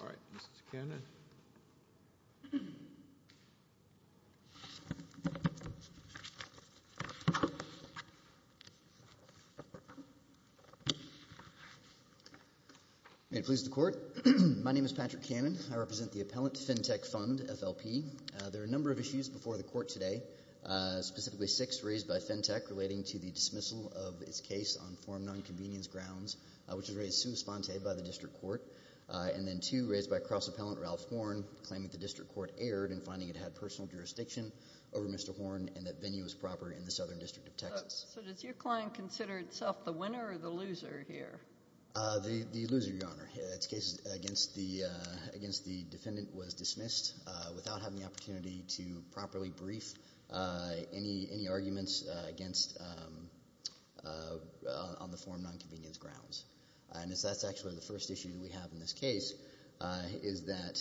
All right. Mrs. Cannon. May it please the court. My name is Patrick Cannon. I represent the Appellant Fintech Fund, FLP. There are a number of issues before the court today, specifically six raised by Fintech relating to the dismissal of its case on form non-convenience grounds, which was raised sous-spante by the district court, and then two raised by cross-appellant Ralph Horne claiming the district court erred in finding it had personal jurisdiction over Mr. Horne and that venue was proper in the Southern District of Texas. So does your client consider itself the winner or the loser here? The loser, Your Honor. Its case against the defendant was dismissed without having the opportunity to properly brief any arguments on the form non-convenience grounds. And that's actually the first issue that we have in this case, is that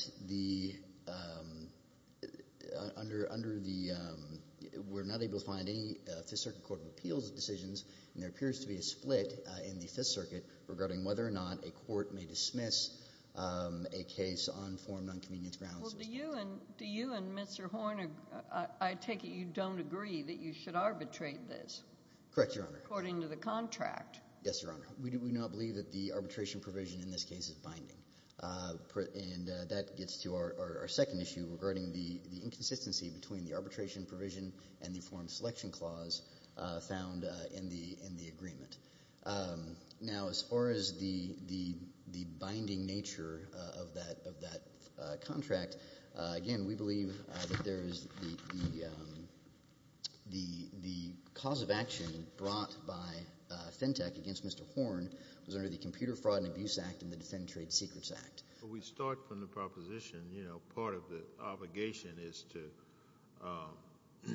we're not able to find any Fifth Circuit Court of Appeals decisions, and there appears to be a split in the Fifth Circuit regarding whether or not a court may dismiss a case on form non-convenience grounds. Well, do you and Mr. Horne, I take it you don't agree that you should arbitrate this? Correct, Your Honor. According to the contract. Yes, Your Honor. We do not believe that the arbitration provision in this case is binding. And that gets to our second issue regarding the inconsistency between the arbitration provision and the form selection clause found in the agreement. Now as far as the binding nature of that contract, again, we believe that there is the cause of action brought by Fentech against Mr. Horne was under the Computer Fraud and Abuse Act and the Defendant Trade Secrets Act. We start from the proposition, you know, part of the obligation is to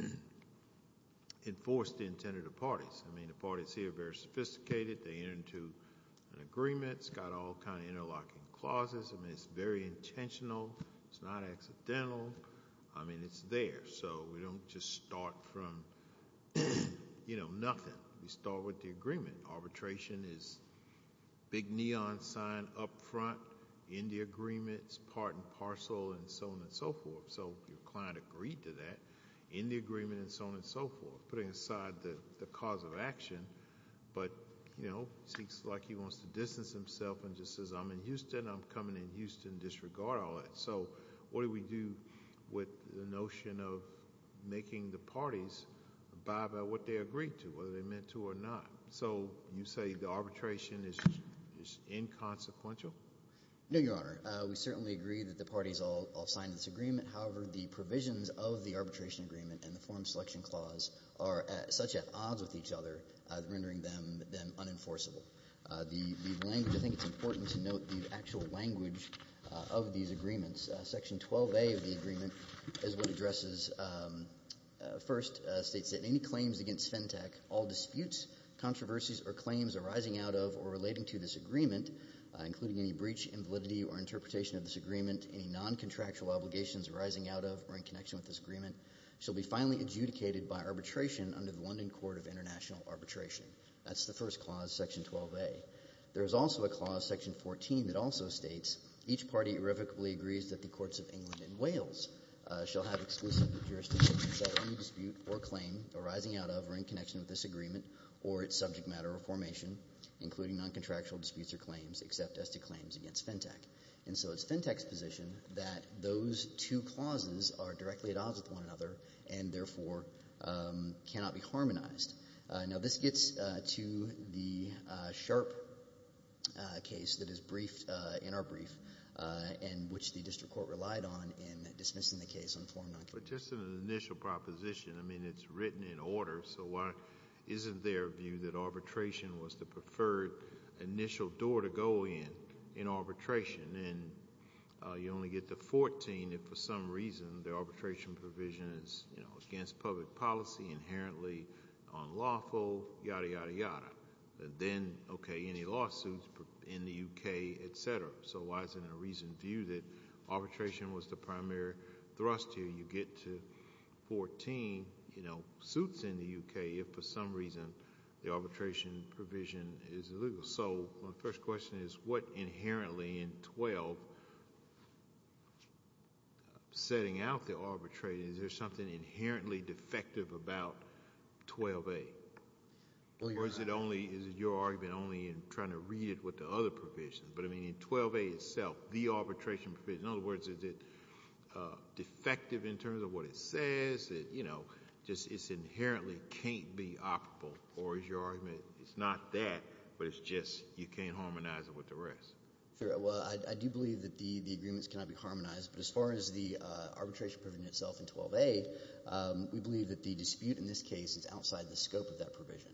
enforce the intent of the parties. I mean, the parties here are very sophisticated. They enter into an agreement. It's got all kind of interlocking clauses. I mean, it's very intentional. It's not accidental. I mean, it's there. So we don't just start from, you know, nothing. We start with the agreement. Arbitration is big neon sign up front in the agreement, it's part and parcel and so on and so forth. So your client agreed to that in the agreement and so on and so forth, putting aside the cause of action, but, you know, seems like he wants to distance himself and just says, I'm in Houston, I'm coming in Houston, disregard all that. So what do we do with the notion of making the parties abide by what they agreed to, whether they meant to or not? So you say the arbitration is inconsequential? No, Your Honor. We certainly agree that the parties all signed this agreement. However, the provisions of the arbitration agreement and the form selection clause are such at odds with each other, rendering them unenforceable. The language, I think it's important to note the actual language of these agreements. Section 12A of the agreement is what addresses, first states that any claims against FENTAC, all disputes, controversies, or claims arising out of or relating to this agreement, including any breach, invalidity, or interpretation of this agreement, any non-contractual obligations arising out of or in connection with this agreement, shall be finally adjudicated by arbitration under the London Court of International Arbitration. That's the first clause, Section 12A. There is also a clause, Section 14, that also states each party irrevocably agrees that the courts of England and Wales shall have exclusive jurisdiction in settling a dispute or claim arising out of or in connection with this agreement or its subject matter or formation, including non-contractual disputes or claims, except as to claims against FENTAC. And so it's FENTAC's position that those two clauses are directly at odds with one another and, therefore, cannot be harmonized. Now, this gets to the Sharpe case that is briefed in our brief and which the district court relied on in dismissing the case on foreign non-contractual disputes. But just in an initial proposition, I mean, it's written in order. So why isn't there a view that arbitration was the preferred initial door to go in, in arbitration? And you only get to 14 if, for some reason, the arbitration provision is against public policy, inherently unlawful, yada, yada, yada. But then, okay, any lawsuits in the U.K., et cetera. So why isn't there a reasoned view that arbitration was the primary thrust here? You get to 14, you know, suits in the U.K. if, for some reason, the arbitration provision is illegal. So my first question is, what inherently in 12, before setting out the arbitration, is there something inherently defective about 12A? Or is it only, is your argument only in trying to read it with the other provisions? But, I mean, in 12A itself, the arbitration provision, in other words, is it defective in terms of what it says? It, you know, just, it inherently can't be operable. Or is your argument, it's not that, but it's just you can't harmonize it with the rest? Well, I do believe that the agreements cannot be harmonized. But as far as the arbitration provision itself in 12A, we believe that the dispute in this case is outside the scope of that provision.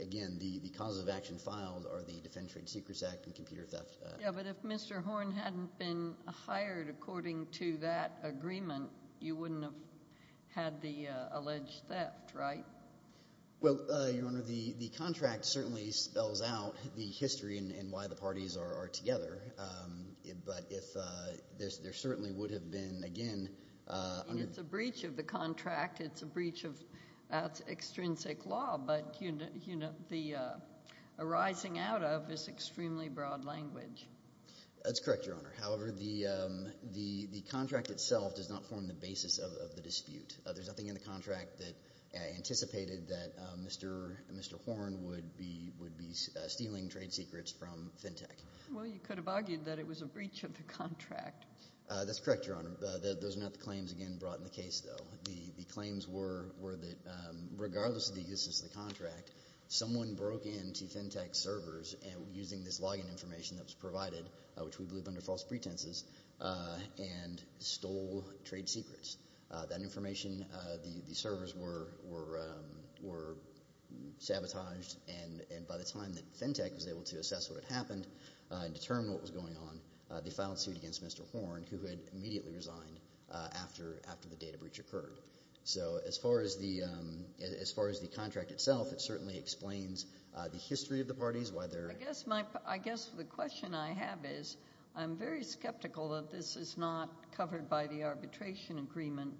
Again, the causes of action filed are the Defense Trade Secrets Act and computer theft. Yeah, but if Mr. Horn hadn't been hired according to that agreement, you wouldn't have had the alleged theft, right? Well, Your Honor, the contract certainly spells out the history and why the parties are together. But if, there certainly would have been, again, under- It's a breach of the contract. It's a breach of extrinsic law. But, you know, the arising out of is extremely broad language. That's correct, Your Honor. However, the contract itself does not form the basis of the dispute. There's nothing in the contract that anticipated that Mr. Horn would be stealing trade secrets from FinTech. Well, you could have argued that it was a breach of the contract. That's correct, Your Honor. Those are not the claims, again, brought in the case, though. The claims were that regardless of the existence of the contract, someone broke into FinTech servers using this login information that was provided, which we believe under false pretenses, and stole trade secrets. That information, the servers were sabotaged, and by the time that FinTech was able to assess what had happened and determine what was going on, they filed a suit against Mr. Horn, who had immediately resigned after the data breach occurred. So as far as the contract itself, it certainly explains the history of the parties, why they're- I guess my, I guess the question I have is, I'm very skeptical that this is not covered by the arbitration agreement,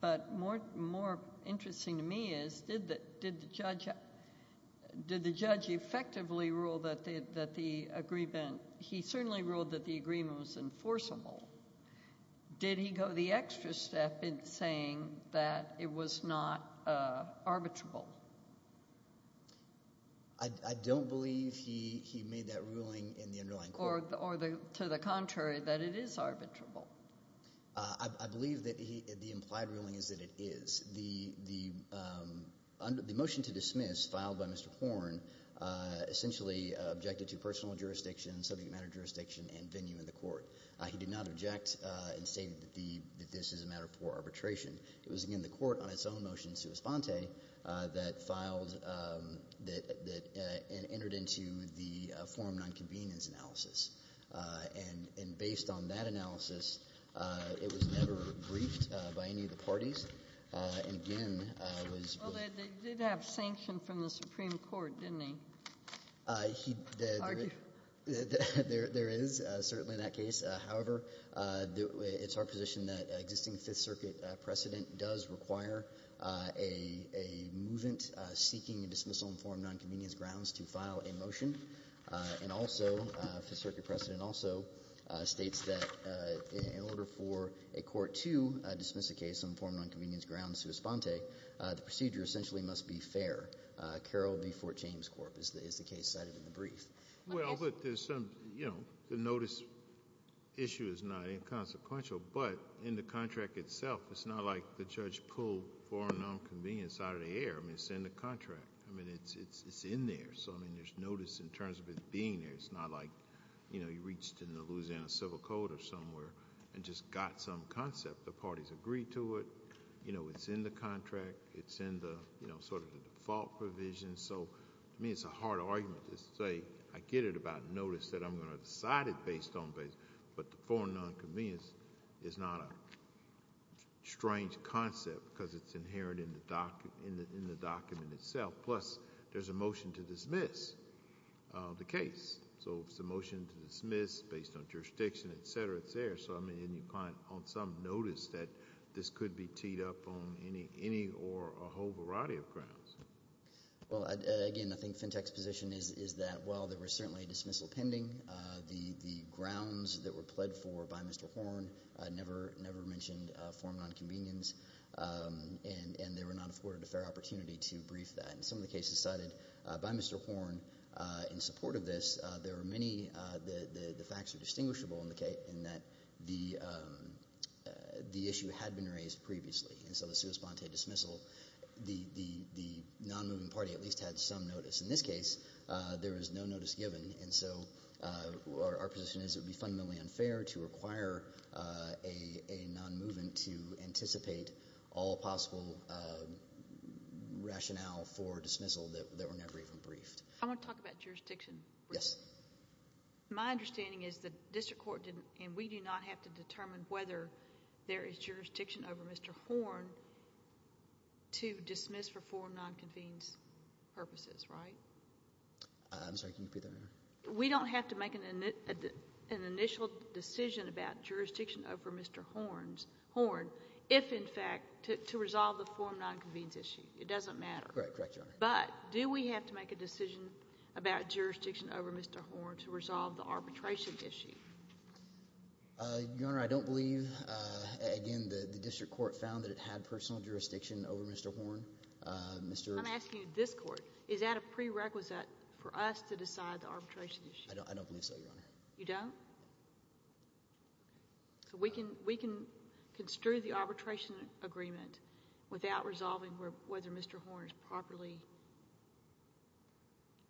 but more interesting to me is, did the judge effectively rule that the agreement, he certainly ruled that the agreement was enforceable. Did he go the extra step in saying that it was not arbitrable? I don't believe he made that ruling in the underlying court. Or to the contrary, that it is arbitrable. I believe that the implied ruling is that it is. The motion to dismiss filed by Mr. Horn essentially objected to personal jurisdiction, subject matter jurisdiction, and venue in the court. He did not object and state that this is a matter for arbitration. It was, again, the court on its own motion, sui sponte, that filed, that entered into the forum non-convenience analysis. And based on that analysis, it was never briefed by any of the parties. And again, it was- Well, they did have sanction from the Supreme Court, didn't they? There is certainly that case. However, it's our position that existing Fifth Circuit precedent does require a movement seeking a dismissal on forum non-convenience grounds to file a motion. And also, Fifth Circuit precedent also states that in order for a court to dismiss a case on forum non-convenience grounds sui sponte, the procedure essentially must be fair. Carroll v. Fort James Corp is the case cited in the brief. Well, but there's some, you know, the notice issue is not inconsequential. But in the contract itself, it's not like the judge pulled forum non-convenience out of the air. I mean, it's in the contract. I mean, it's in there. So, I mean, there's notice in terms of it being there. It's not like, you know, you reached in the Louisiana Civil Code or somewhere and just got some concept. The parties agreed to it. You know, it's in the contract. It's in the, you know, sort of the default provision. So, to me, it's a hard argument to say I get it about notice that I'm going to decide it based on, but the forum non-convenience is not a strange concept because it's inherent in the document itself. Plus, there's a motion to dismiss the case. So, if it's a motion to dismiss based on jurisdiction, et cetera, it's there. So, I mean, and you can't on some notice that this could be teed up on any or a whole variety of grounds. Well, again, I think Fintech's position is that while there was certainly a dismissal pending, the grounds that were pled for by Mr. Horne never mentioned forum non-convenience. And they were not afforded a fair opportunity to brief that. And some of the cases cited by Mr. Horne in support of this, there were many, the facts are distinguishable in that the issue had been raised previously. And so, the sua sponte dismissal, the non-moving party at least had some notice. In this case, there was no notice given. And so, our position is it would be fundamentally unfair to require a non-movement to anticipate all possible rationale for dismissal that were never even briefed. I want to talk about jurisdiction. Yes. My understanding is the district court didn't, and we do not have to determine whether there is jurisdiction over Mr. Horne to dismiss for forum non-convenience purposes, right? I'm sorry, can you repeat that? We don't have to make an initial decision about jurisdiction over Mr. Horne's. If, in fact, to resolve the forum non-convenience issue. It doesn't matter. Correct, Your Honor. But, do we have to make a decision about jurisdiction over Mr. Horne to resolve the arbitration issue? Your Honor, I don't believe, again, the district court found that it had personal jurisdiction over Mr. Horne. I'm asking this court. Is that a prerequisite for us to decide the arbitration issue? I don't believe so, Your Honor. You don't? So, we can construe the arbitration agreement without resolving whether Mr. Horne is properly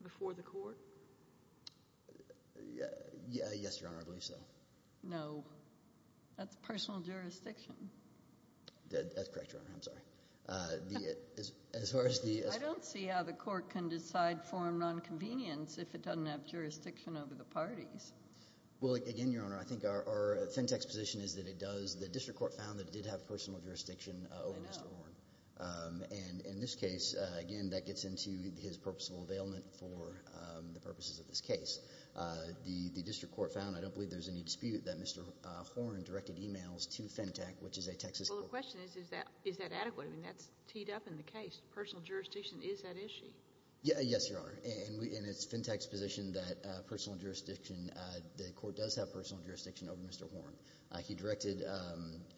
before the court? Yes, Your Honor, I believe so. No. That's personal jurisdiction. That's correct, Your Honor. I'm sorry. As far as the- I don't see how the court can decide forum non-convenience if it doesn't have jurisdiction over the parties. Well, again, Your Honor, I think our Fentech's position is that it does. The district court found that it did have personal jurisdiction over Mr. Horne. And in this case, again, that gets into his purposeful availment for the purposes of this case. The district court found, I don't believe there's any dispute, that Mr. Horne directed emails to Fentech, which is a Texas- Well, the question is, is that adequate? I mean, that's teed up in the case. Personal jurisdiction is that issue? Yes, Your Honor. And it's Fentech's position that personal jurisdiction, the court does have personal jurisdiction over Mr. Horne. He directed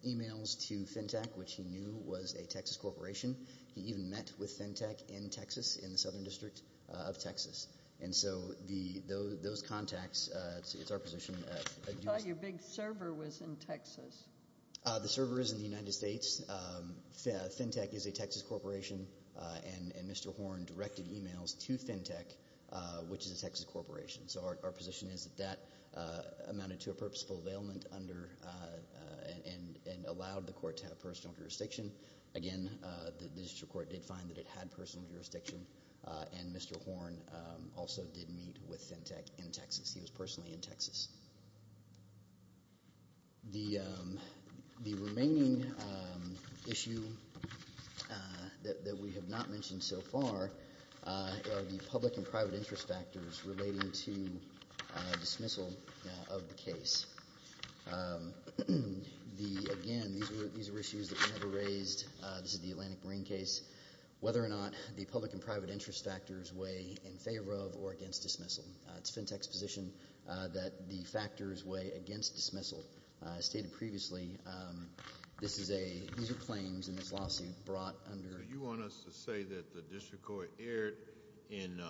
emails to Fentech, which he knew was a Texas corporation. He even met with Fentech in Texas, in the southern district of Texas. And so those contacts, it's our position- I thought your big server was in Texas. The server is in the United States. Fentech is a Texas corporation. And Mr. Horne directed emails to Fentech, which is a Texas corporation. So our position is that that amounted to a purposeful availment and allowed the court to have personal jurisdiction. Again, the district court did find that it had personal jurisdiction. And Mr. Horne also did meet with Fentech in Texas. He was personally in Texas. The remaining issue that we have not mentioned so far are the public and private interest factors relating to dismissal of the case. Again, these were issues that we never raised. This is the Atlantic Marine case. Whether or not the public and private interest factors weigh in favor of or against dismissal. It's Fentech's position that the factors weigh against dismissal. As stated previously, these are claims in this lawsuit brought under- So you want us to say that the district court erred in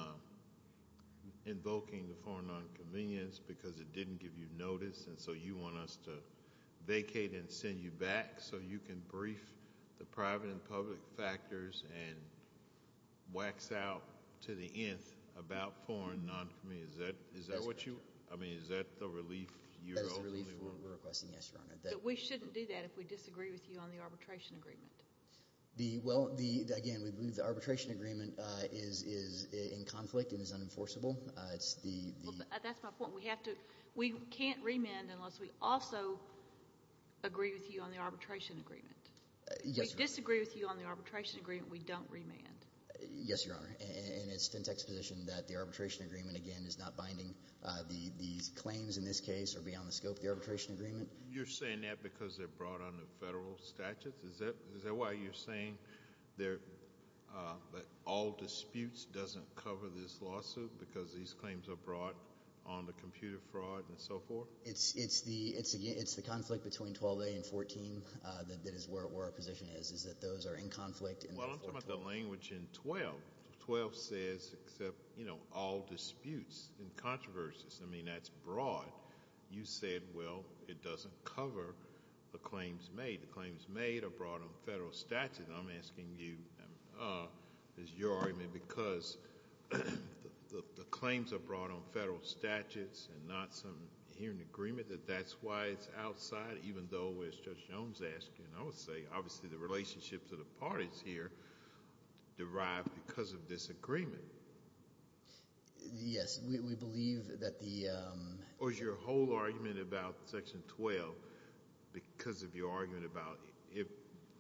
invoking the foreign non-convenience because it didn't give you notice. And so you want us to vacate and send you back so you can brief the private and public interest factors and wax out to the nth about foreign non-convenience. Is that what you? I mean, is that the relief? That's the relief we're requesting. Yes, Your Honor. We shouldn't do that if we disagree with you on the arbitration agreement. Again, we believe the arbitration agreement is in conflict and is unenforceable. That's my point. We can't remand unless we also agree with you on the arbitration agreement. If we disagree with you on the arbitration agreement, we don't remand. Yes, Your Honor. And it's Fentech's position that the arbitration agreement, again, is not binding. These claims in this case are beyond the scope of the arbitration agreement. You're saying that because they're brought under federal statutes? Is that why you're saying that all disputes doesn't cover this lawsuit because these claims are brought on the computer fraud and so forth? It's the conflict between 12A and 14 that is where our position is, is that those are in conflict. Well, I'm talking about the language in 12. 12 says except, you know, all disputes and controversies. I mean, that's broad. You said, well, it doesn't cover the claims made. The claims made are brought on federal statutes. I'm asking you, is your argument because the claims are brought on federal statutes and not some hearing agreement that that's why it's outside, even though, as Judge Jones asked, and I would say, obviously, the relationship to the parties here derived because of disagreement? Yes, we believe that the— Or is your whole argument about Section 12 because of your argument about if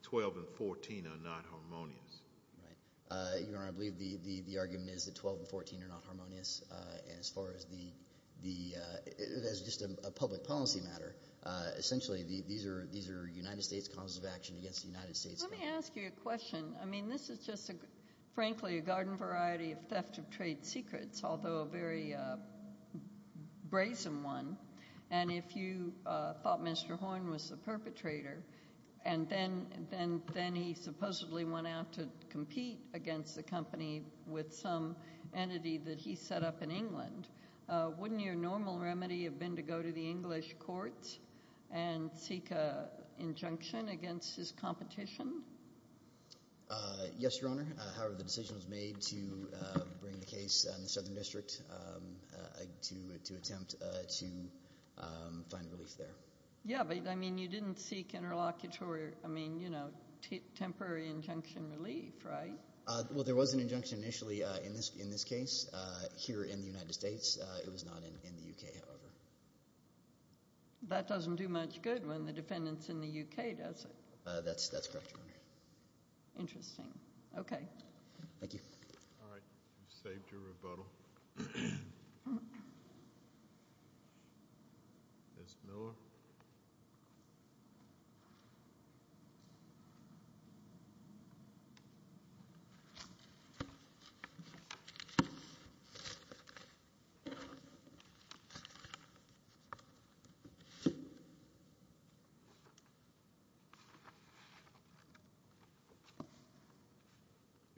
12 and 14 are not harmonious? Right. Your Honor, I believe the argument is that 12 and 14 are not harmonious. And as far as the—it's just a public policy matter. Essentially, these are United States causes of action against the United States. Let me ask you a question. I mean, this is just, frankly, a garden variety of theft of trade secrets, although a very brazen one. And if you thought Mr. Horn was the perpetrator, and then he supposedly went out to compete against the company with some entity that he set up in England, wouldn't your normal remedy have been to go to the English courts and seek an injunction against his competition? Yes, Your Honor. However, the decision was made to bring the case in the Southern District to attempt to find relief there. Yeah, but, I mean, you didn't seek interlocutory— I mean, you know, temporary injunction relief, right? Well, there was an injunction initially in this case here in the United States. It was not in the U.K., however. That doesn't do much good when the defendant's in the U.K., does it? That's correct, Your Honor. Interesting. Okay. Thank you. All right. You've saved your rebuttal. Ms. Miller?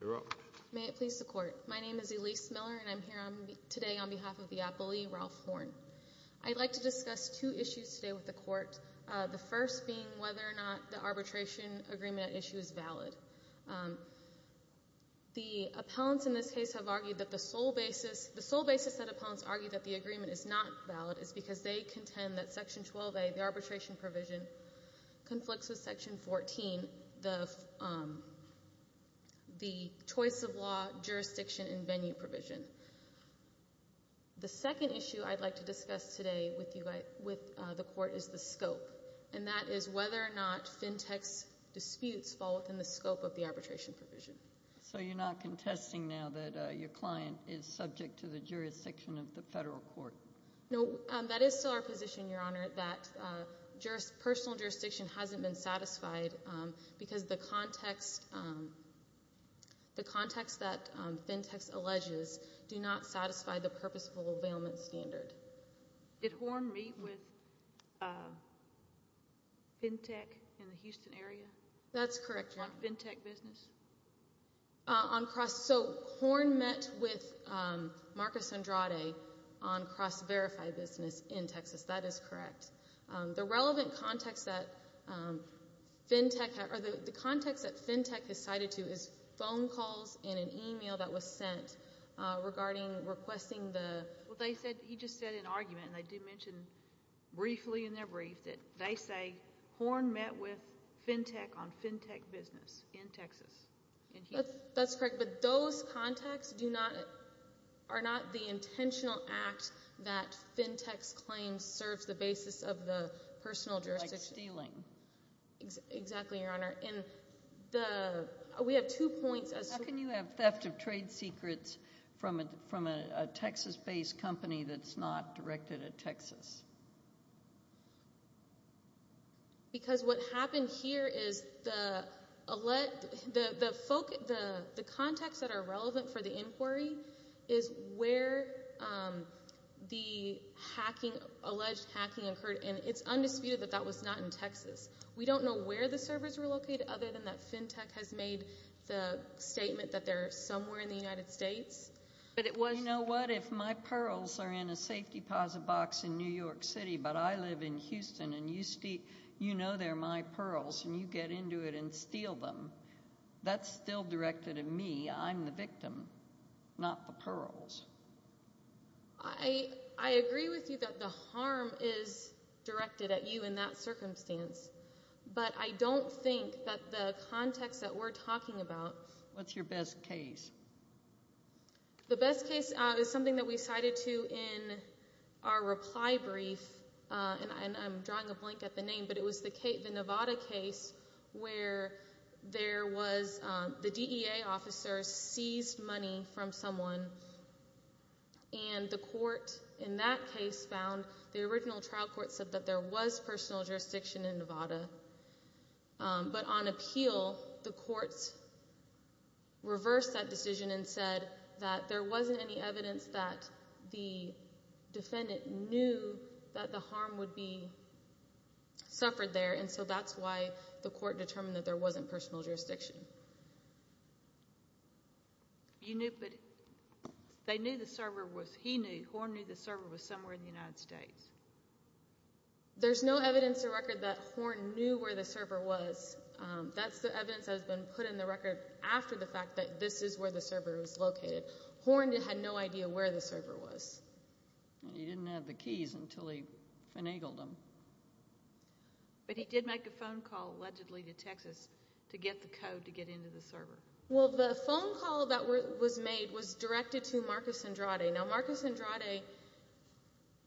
You're up. May it please the Court. My name is Elyse Miller, and I'm here today on behalf of the appellee, Ralph Horn. I'd like to discuss two issues today with the Court, the first being whether or not the arbitration agreement issue is valid. The appellants in this case have argued that the sole basis— the sole basis that appellants argue that the agreement is not valid is because they contend that Section 12a, the arbitration provision, conflicts with Section 14, the Choice of Law, Jurisdiction, and Venue provision. The second issue I'd like to discuss today with the Court is the scope, and that is whether or not FinTech's disputes fall within the scope of the arbitration provision. You're not contesting now that your client is subject to the jurisdiction of the federal court? No. That is still our position, Your Honor, that personal jurisdiction hasn't been satisfied because the context that FinTech's alleges do not satisfy the purposeful availment standard. Did Horn meet with FinTech in the Houston area? That's correct, Your Honor. On FinTech business? On cross—so Horn met with Marcus Andrade on cross-verified business in Texas. That is correct. The relevant context that FinTech—or the context that FinTech has cited to is phone calls and an email that was sent regarding requesting the— Well, they said—he just said in argument, and I do mention briefly in their brief, that they say Horn met with FinTech on FinTech business in Texas. That's correct, but those contexts do not—are not the intentional act that FinTech's claim serves the basis of the personal jurisdiction. Like stealing. Exactly, Your Honor. We have two points— How can you have theft of trade secrets from a Texas-based company that's not directed at Texas? Because what happened here is the—the context that are relevant for the inquiry is where the hacking—alleged hacking occurred, and it's undisputed that that was not in Texas. We don't know where the servers were located, other than that FinTech has made the statement that they're somewhere in the United States. But it was— You know what? If my pearls are in a safety deposit box in New York, but I live in Houston, and you know they're my pearls, and you get into it and steal them, that's still directed at me. I'm the victim, not the pearls. I—I agree with you that the harm is directed at you in that circumstance, but I don't think that the context that we're talking about— What's your best case? The best case is something that we cited to in our reply brief, and I'm drawing a blank at the name, but it was the Nevada case where there was—the DEA officer seized money from someone, and the court in that case found—the original trial court said that there was personal jurisdiction in Nevada, but on appeal, the courts reversed that decision and said that there wasn't any evidence that the defendant knew that the harm would be suffered there, and so that's why the court determined that there wasn't personal jurisdiction. You knew, but they knew the server was—he knew, Horn knew the server was somewhere in the United States. There's no evidence to record that Horn knew where the server was. That's the evidence that has been put in the record after the fact that this is where the server was located. Horn had no idea where the server was. He didn't have the keys until he finagled them. But he did make a phone call, allegedly, to Texas to get the code to get into the server. Well, the phone call that was made was directed to Marcus Andrade. Now, Marcus Andrade—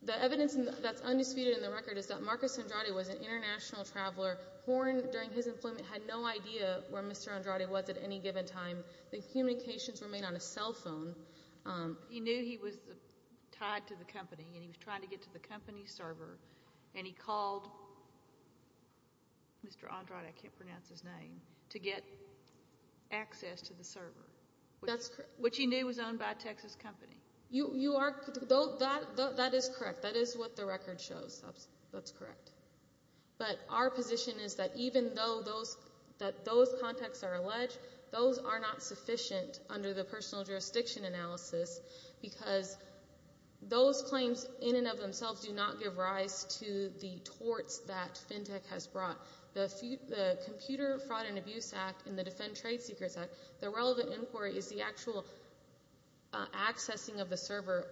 the evidence that's undisputed in the record is that Marcus Andrade was an international traveler. Horn, during his employment, had no idea where Mr. Andrade was at any given time. The communications were made on a cell phone. He knew he was tied to the company, and he was trying to get to the company's server, and he called Mr. Andrade—I can't pronounce his name—to get access to the server, which he knew was owned by a Texas company. You are—that is correct. That is what the record shows. That's correct. But our position is that even though those contacts are alleged, those are not sufficient under the personal jurisdiction analysis, because those claims in and of themselves do not give rise to the torts that FinTech has brought. The Computer Fraud and Abuse Act and the Defend Trade Secrets Act, the relevant inquiry is the actual accessing of the server,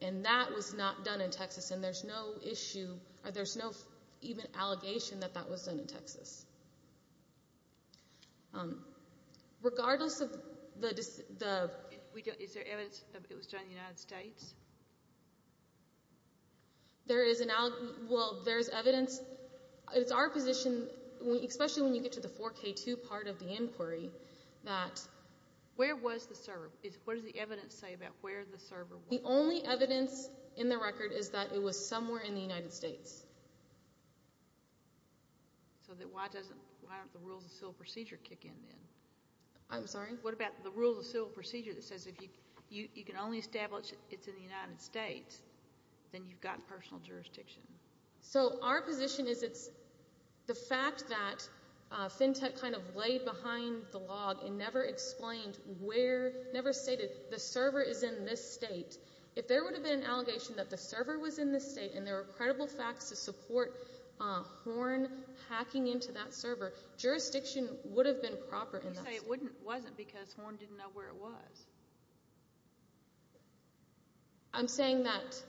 and that was not done in Texas, and there's no issue—or there's no even allegation that that was done in Texas. Regardless of the— Is there evidence that it was done in the United States? There is an—well, there's evidence—it's our position, especially when you get to the 4K2 part of the inquiry, that— Where was the server? What does the evidence say about where the server was? The only evidence in the record is that it was somewhere in the United States. So then why doesn't—why don't the Rules of Civil Procedure kick in then? I'm sorry? What about the Rules of Civil Procedure that says if you can only establish it's in the United States, then you've got personal jurisdiction? So our position is it's—the fact that FinTech kind of laid behind the log and never explained where—never stated the server is in this state, if there would have been an allegation that the server was in this state and there were credible facts to support Horn hacking into that server, jurisdiction would have been proper in that state. You say it wasn't because Horn didn't know where it was. I'm saying that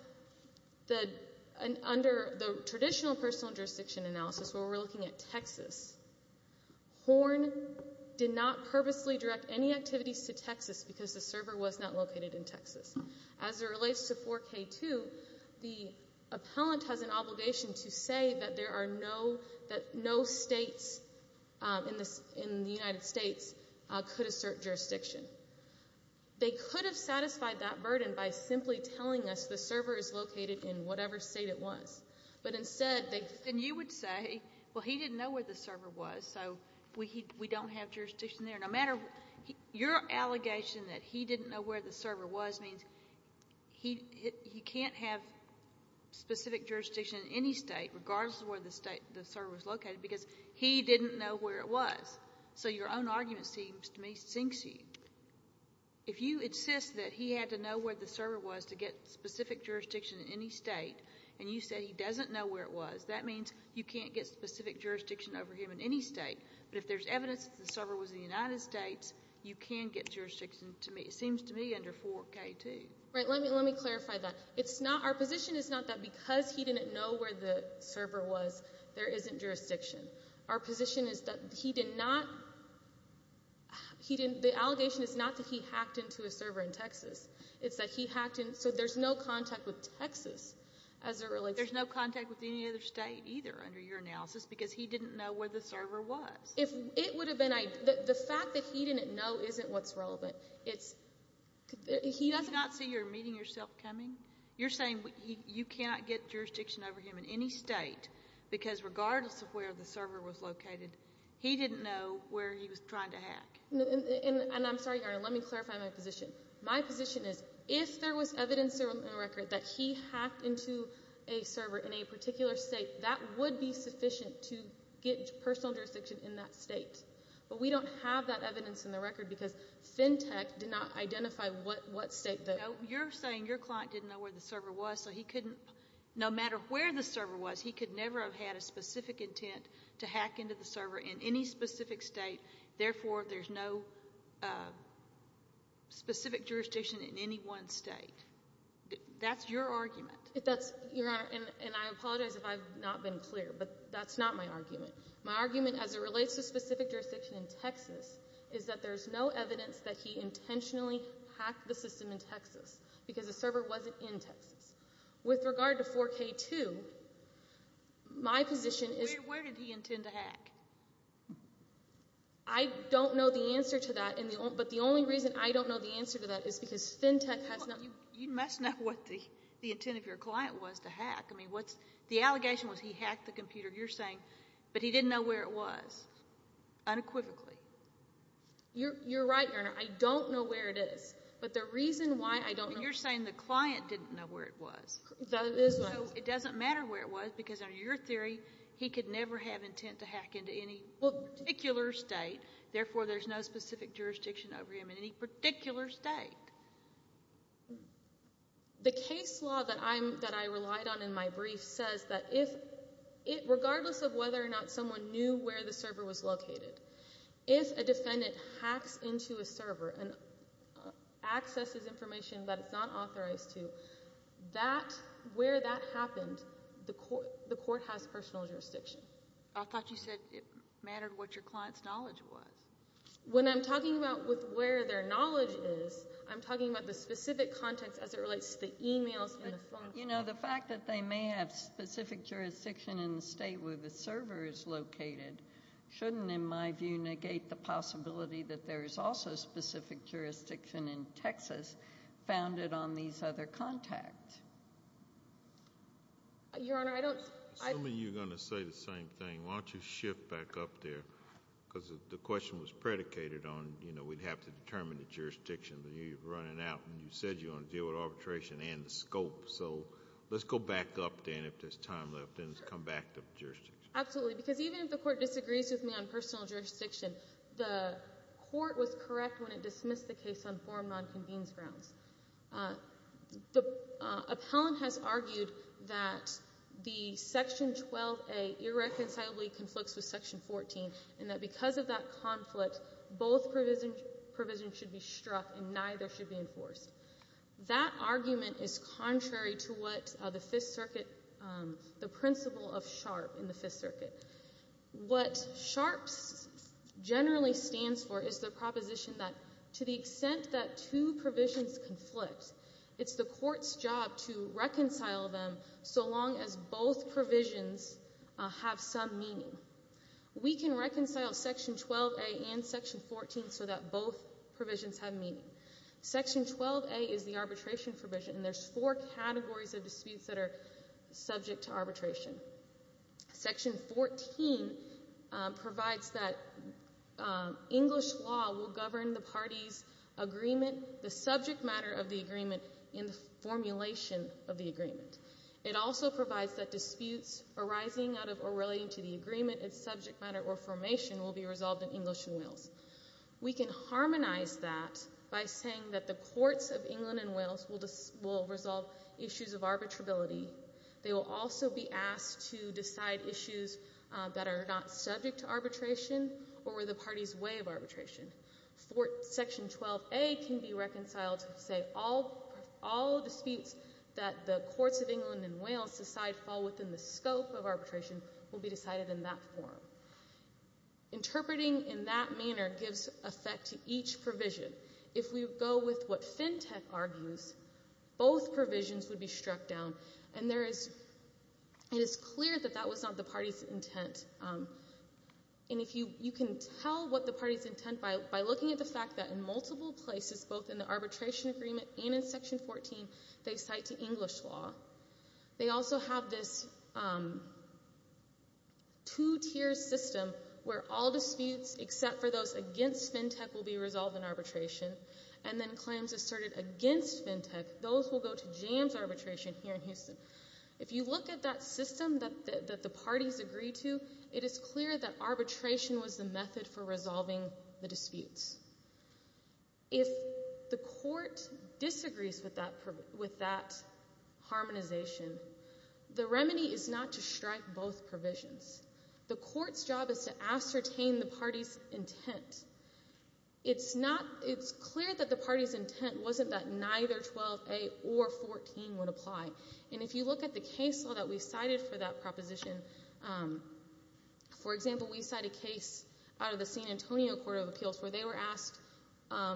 the—under the traditional personal jurisdiction analysis, where we're looking at Texas, Horn did not purposely direct any activities to Texas because the server was not located in Texas. As it relates to 4K2, the appellant has an obligation to say that there are no—that no states in the United States could assert jurisdiction. They could have satisfied that burden by simply telling us the server is located in whatever state it was. But instead, they— And you would say, well, he didn't know where the server was, so we don't have jurisdiction there. No matter—your allegation that he didn't know where the server was means he can't have specific jurisdiction in any state regardless of where the server was located because he didn't know where it was. So your own argument seems to me—sinks you. If you insist that he had to know where the server was to get specific jurisdiction in any state, and you say he doesn't know where it was, that means you can't get specific jurisdiction over him in any state. But if there's evidence that the server was in the United States, you can get jurisdiction to—seems to me under 4K2. Right. Let me—let me clarify that. It's not—our position is not that because he didn't know where the server was, there isn't jurisdiction. Our position is that he did not—he didn't—the allegation is not that he hacked into a server in Texas. It's that he hacked in—so there's no contact with Texas as it relates— There's no contact with any other state either under your analysis because he didn't know where the server was. If—it would have been—the fact that he didn't know isn't what's relevant. It's—he doesn't— Do you not see you're meeting yourself coming? You're saying you cannot get jurisdiction over him in any state because regardless of where the server was located, he didn't know where he was trying to hack. And I'm sorry, Your Honor, let me clarify my position. My position is if there was evidence in the record that he hacked into a server in a particular state, that would be sufficient to get personal jurisdiction in that state. But we don't have that evidence in the record because FinTech did not identify what state that— You're saying your client didn't know where the server was so he couldn't—no matter where the server was, he could never have had a specific intent to hack into the server in any specific state. Therefore, there's no specific jurisdiction in any one state. That's your argument. That's—Your Honor, and I apologize if I've not been clear, but that's not my argument. My argument as it relates to specific jurisdiction in Texas is that there's no evidence that he intentionally hacked the system in Texas because the server wasn't in Texas. With regard to 4K2, my position is— Where did he intend to hack? I don't know the answer to that, but the only reason I don't know the answer to that is because FinTech has not— You must know what the intent of your client was to hack. I mean, what's—the allegation was he hacked the computer. You're saying, but he didn't know where it was, unequivocally. You're right, Your Honor. I don't know where it is, but the reason why I don't know— You're saying the client didn't know where it was. That is right. So it doesn't matter where it was because, under your theory, he could never have intent to hack into any particular state. Therefore, there's no specific jurisdiction over him in any particular state. The case law that I relied on in my brief says that if—regardless of whether or not someone knew where the server was located, if a defendant hacks into a server and is not authorized to, where that happened, the court has personal jurisdiction. I thought you said it mattered what your client's knowledge was. When I'm talking about where their knowledge is, I'm talking about the specific context as it relates to the emails and the phone calls. You know, the fact that they may have specific jurisdiction in the state where the server is located shouldn't, in my view, negate the possibility that there is also specific jurisdiction in Texas founded on these other contacts. Your Honor, I don't— I'm assuming you're going to say the same thing. Why don't you shift back up there? Because the question was predicated on, you know, we'd have to determine the jurisdiction that you're running out, and you said you want to deal with arbitration and the scope. So let's go back up, then, if there's time left, and come back to jurisdiction. Absolutely, because even if the court disagrees with me on personal jurisdiction, the court was correct when it dismissed the case on form non-convenes grounds. The appellant has argued that the Section 12a irreconcilably conflicts with Section 14, and that because of that conflict, both provisions should be struck and neither should be enforced. That argument is contrary to what the Fifth Circuit—the principle of SHARP in the Fifth Circuit. What SHARP generally stands for is the proposition that to the extent that two provisions conflict, it's the court's job to reconcile them so long as both provisions have some meaning. We can reconcile Section 12a and Section 14 so that both provisions have meaning. Section 12a is the arbitration provision, and there's four categories of disputes that are subject to arbitration. Section 14 provides that English law will govern the party's agreement—the subject matter of the agreement—in the formulation of the agreement. It also provides that disputes arising out of or relating to the agreement, its subject matter, or formation will be resolved in English and Wales. We can harmonize that by saying that the courts of England and Wales will resolve issues of arbitrability. They will also be asked to decide issues that are not subject to arbitration or were the party's way of arbitration. Section 12a can be reconciled to say all disputes that the courts of England and Wales decide fall within the scope of arbitration will be decided in that form. Interpreting in that manner gives effect to each provision. If we go with what FinTech argues, both provisions would be struck down. And there is—it is clear that that was not the party's intent. And if you—you can tell what the party's intent by looking at the fact that in multiple places, both in the arbitration agreement and in Section 14, they cite to English law. They also have this two-tier system where all disputes except for those against FinTech will be resolved in arbitration. And then claims asserted against FinTech, those will go to jams arbitration here in Houston. If you look at that system that the parties agree to, it is clear that arbitration was the method for resolving the disputes. If the court disagrees with that harmonization, the remedy is not to strike both provisions. The court's job is to ascertain the party's intent. It's not—it's clear that the party's intent wasn't that neither 12A or 14 would apply. And if you look at the case law that we cited for that proposition, for example, we cite a case out of the San Antonio Court of Appeals where they were asked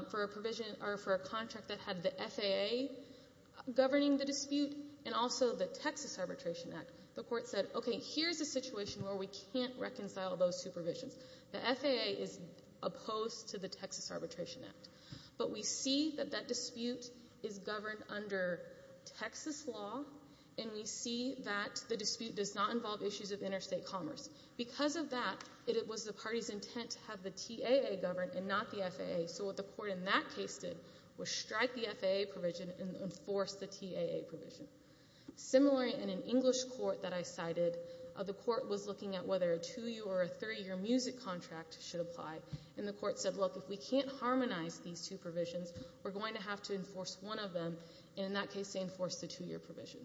for a provision or for a contract that had the FAA governing the dispute and also the Texas Arbitration Act. The court said, okay, here's a situation where we can't reconcile those two provisions. The FAA is opposed to the Texas Arbitration Act. But we see that that dispute is governed under Texas law, and we see that the dispute does not involve issues of interstate commerce. Because of that, it was the party's intent to have the TAA govern and not the FAA. So what the court in that case did was strike the FAA provision and enforce the TAA provision. Similarly, in an English court that I cited, the court was looking at whether a two-year or a three-year music contract should apply. And the court said, look, if we can't harmonize these two provisions, we're going to have to enforce one of them. And in that case, they enforced the two-year provision.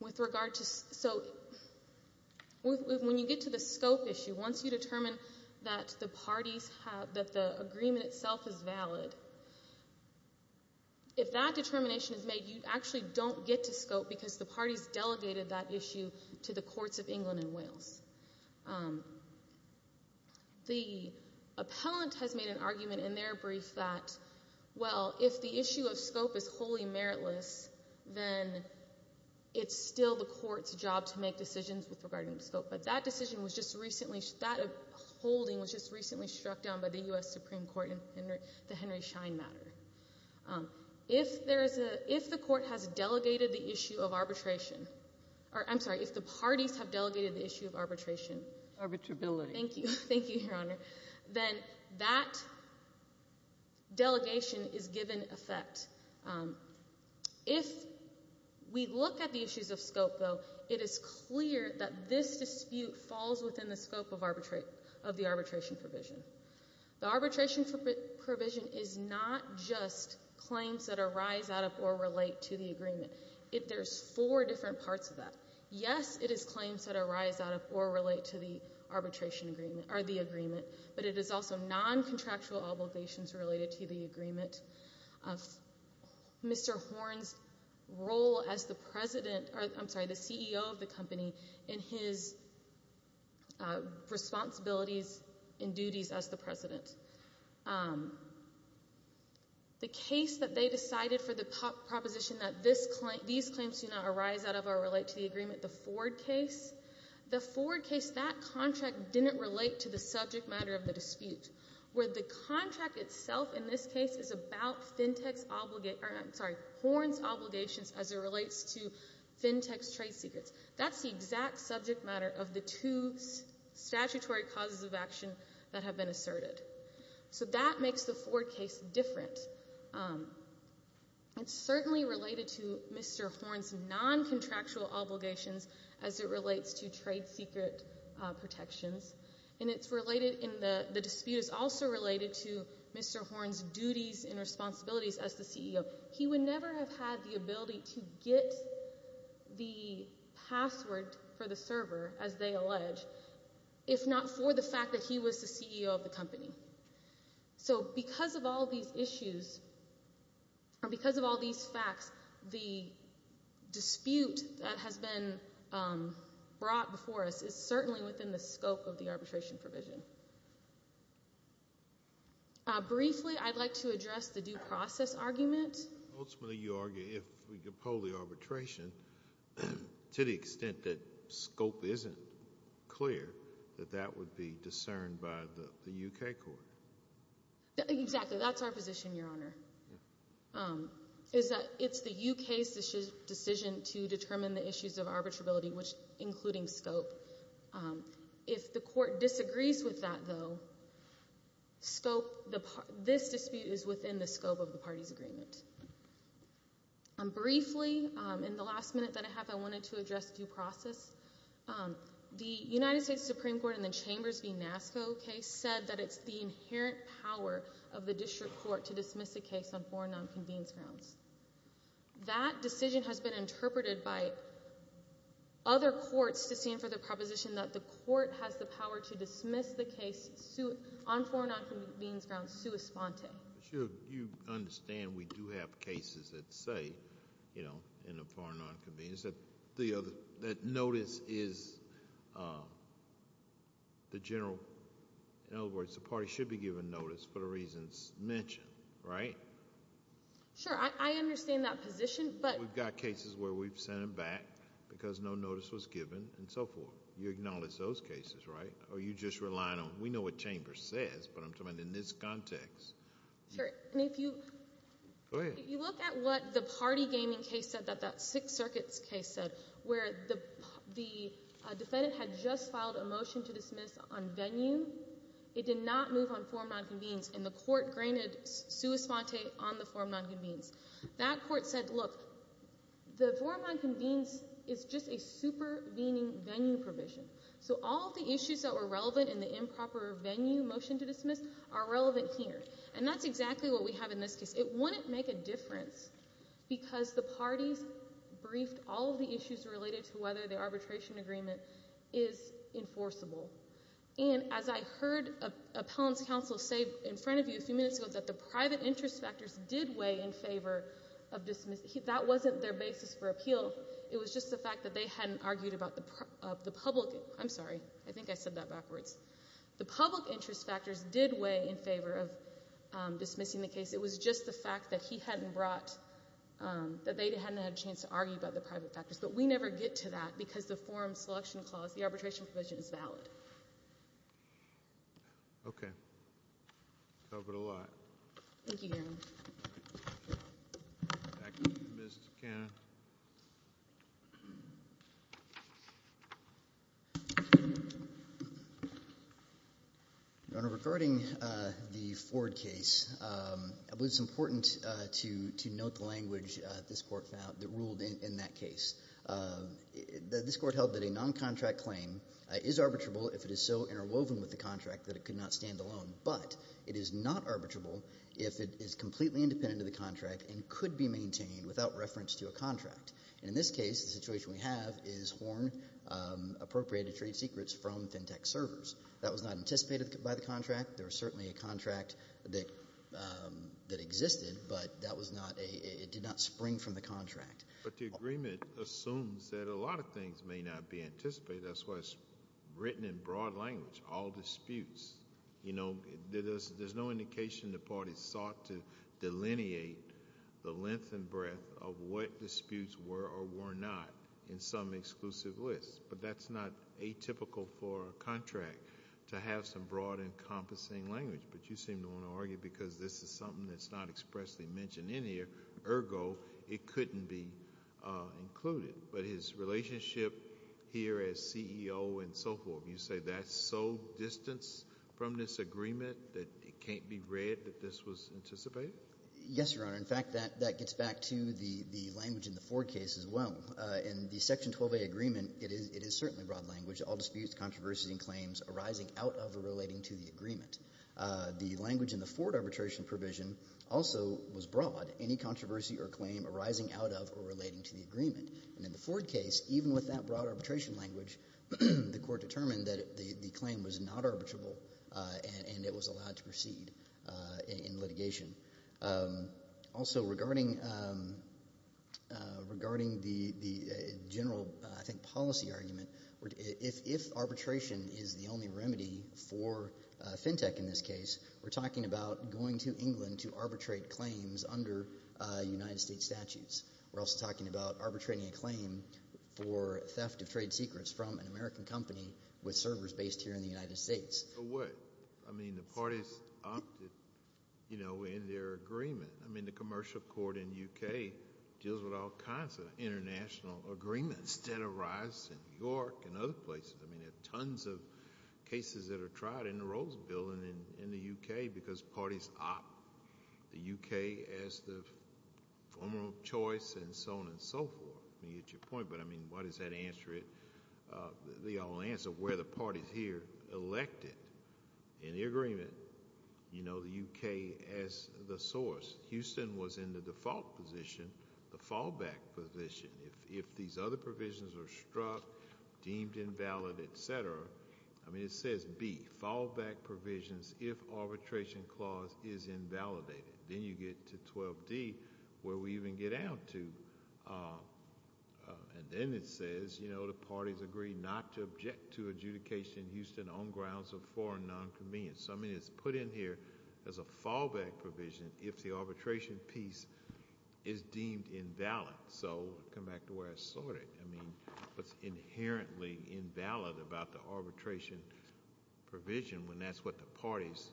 With regard to—so when you get to the scope issue, once you determine that the parties have—that the agreement itself is valid, if that determination is made, you actually don't get to scope because the parties delegated that issue to the courts of England and Wales. The appellant has made an argument in their brief that, well, if the issue of scope is wholly meritless, then it's still the court's job to make decisions regarding scope. But that decision was just recently—that holding was just recently struck down by the U.S. Supreme Court in the Henry Schein matter. If there is a—if the court has delegated the issue of arbitration—or, I'm sorry, if the parties have delegated the issue of arbitration— Arbitrability. Thank you. Thank you, Your Honor. Then that delegation is given effect. If we look at the issues of scope, though, it is clear that this dispute falls within the scope of arbitration—of the arbitration provision. The arbitration provision is not just claims that arise out of or relate to the agreement. It—there's four different parts of that. Yes, it is claims that arise out of or relate to the arbitration agreement—or the agreement, but it is also noncontractual obligations related to the agreement. Mr. Horne's role as the president—or, I'm sorry, the CEO of the company in his responsibilities and duties as the president—the case that they decided for the proposition that these claims do not arise out of or relate to the agreement, the Ford case, the Ford case, that contract didn't relate to the subject matter of the dispute, where the contract itself in this case is about Fintech's obligat—or, I'm sorry, Horne's obligations as it relates to Fintech's trade secrets. That's the exact subject matter of the two statutory causes of action that have been asserted. So that makes the Ford case different. It's certainly related to Mr. Horne's noncontractual obligations as it relates to trade secret protections, and it's related in the—the dispute is also related to Mr. Horne's duties and responsibilities as the CEO. He would never have had the ability to get the password for the server, as they allege, if not for the fact that he was the CEO of the company. So because of all these issues, or because of all these facts, the dispute that has been brought before us is certainly within the scope of the arbitration provision. Briefly, I'd like to address the due process argument. Ultimately, you argue, if we could poll the arbitration, to the extent that scope isn't clear, that that would be discerned by the U.K. Court. Exactly. That's our position, Your Honor, is that it's the U.K.'s decision to determine the issues of arbitrability, which—including scope. So if the court disagrees with that, though, scope—this dispute is within the scope of the party's agreement. Briefly, in the last minute that I have, I wanted to address due process. The United States Supreme Court in the Chambers v. NASCO case said that it's the inherent power of the district court to dismiss a case on foreign nonconvenience grounds. That decision has been interpreted by other courts to stand for the proposition that the court has the power to dismiss the case on foreign nonconvenience grounds, sua sponte. You understand we do have cases that say, you know, in a foreign nonconvenience, that notice is the general—in other words, the party should be given notice for the reasons mentioned, right? Sure. I understand that position, but— We've got cases where we've sent them back because no notice was given and so forth. You acknowledge those cases, right? Or are you just relying on—we know what Chambers says, but I'm talking in this context. Sure. And if you— Go ahead. You look at what the party gaming case said, that Sixth Circuit case said, where the defendant had just filed a motion to dismiss on venue. It did not move on foreign nonconvenience, and the court granted sua sponte on the foreign nonconvenience. That court said, look, the foreign nonconvenience is just a supervening venue provision, so all of the issues that were relevant in the improper venue motion to dismiss are relevant here. And that's exactly what we have in this case. It wouldn't make a difference because the parties briefed all of the issues related to whether the arbitration agreement is enforceable. And as I heard an appellant's counsel say in front of you a few minutes ago, that the private interest factors did weigh in favor of dismissing—that wasn't their basis for appeal. It was just the fact that they hadn't argued about the public—I'm sorry. I think I said that backwards. The public interest factors did weigh in favor of dismissing the case. It was just the fact that he hadn't brought—that they hadn't had a chance to argue about the private factors. But we never get to that because the forum selection clause, the arbitration provision, is valid. Okay. Covered a lot. Thank you, Your Honor. Your Honor, regarding the Ford case, I believe it's important to note the language that this court found—that ruled in that case. This court held that a noncontract claim is arbitrable if it is so interwoven with the contract that it could not stand alone. But it is not arbitrable if it is completely independent of the contract and could be maintained without reference to a contract. And in this case, the situation we have is Horne appropriated trade secrets from FinTech servers. That was not anticipated by the contract. There was certainly a contract that existed, but that was not a—it did not spring from the contract. But the agreement assumes that a lot of things may not be anticipated. That's why it's broad-language, all disputes. There's no indication the parties sought to delineate the length and breadth of what disputes were or were not in some exclusive list. But that's not atypical for a contract to have some broad, encompassing language. But you seem to want to argue because this is something that's not expressly mentioned in here. Ergo, it couldn't be that's so distanced from this agreement that it can't be read that this was anticipated? Yes, Your Honor. In fact, that gets back to the language in the Ford case as well. In the Section 12a agreement, it is certainly broad-language, all disputes, controversies, and claims arising out of or relating to the agreement. The language in the Ford arbitration provision also was broad, any controversy or claim arising out of or relating to the agreement. And in the Ford case, even with that broad arbitration language, the Court determined that the claim was not arbitrable and it was allowed to proceed in litigation. Also, regarding the general, I think, policy argument, if arbitration is the only remedy for FinTech in this case, we're talking about going to England to arbitrate claims under United States statutes. We're also talking about arbitrating a claim for theft of trade with servers based here in the United States. But what? I mean, the parties opted, you know, in their agreement. I mean, the Commercial Court in the UK deals with all kinds of international agreements that arise in New York and other places. I mean, there are tons of cases that are tried in the Rolls Bill and in the UK because parties opt the UK as the formal choice and so on and so forth. I mean, you get your point, but I mean, why does that answer it? The only answer, where the parties here elected in the agreement, you know, the UK as the source. Houston was in the default position, the fallback position. If these other provisions are struck, deemed invalid, et cetera, I mean, it says B, fallback provisions if arbitration clause is invalidated. Then you get to 12D, where we even get out to. And then it says, you know, the parties agree not to object to adjudication in Houston on grounds of foreign nonconvenience. So, I mean, it's put in here as a fallback provision if the arbitration piece is deemed invalid. So, come back to where I started. I mean, what's inherently invalid about the arbitration provision when that's what the parties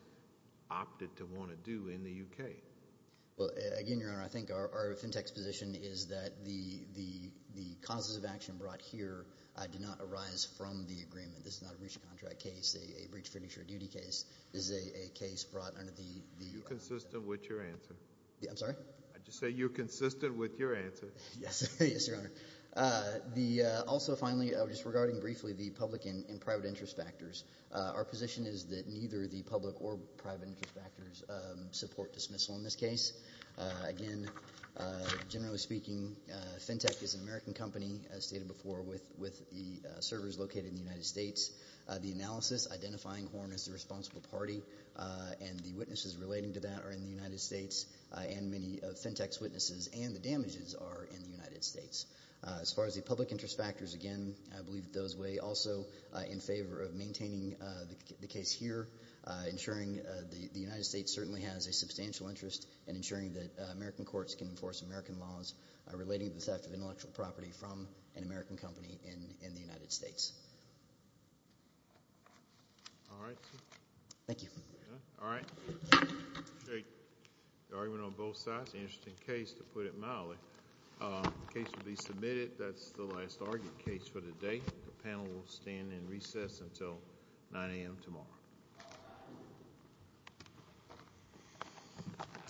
opted to want to do in the UK? Well, again, Your Honor, I think our fintext position is that the causes of action brought here did not arise from the agreement. This is not a breach of contract case. A breach of fiduciary duty case is a case brought under the... You're consistent with your answer. Yeah, I'm sorry? I just say you're consistent with your answer. Yes, Your Honor. Also, finally, just regarding briefly the public and private interest factors, our position is that neither the public or private interest factors support dismissal in this case. Again, generally speaking, fintext is an American company, as stated before, with the servers located in the United States. The analysis identifying Horn as the responsible party and the witnesses relating to that are in the United States, and many fintext witnesses and the damages are in the United States. As far as the public interest factors, again, I believe those weigh also in favor of maintaining the case here, ensuring the United States certainly has a substantial interest in ensuring that American courts can enforce American laws relating to the theft of intellectual property from an American company in the United States. All right. Thank you. All right. The argument on both sides. Interesting case, to put it mildly. The case will be submitted. That's the last argued case for the day. The panel will stand in recess until 9 a.m. tomorrow.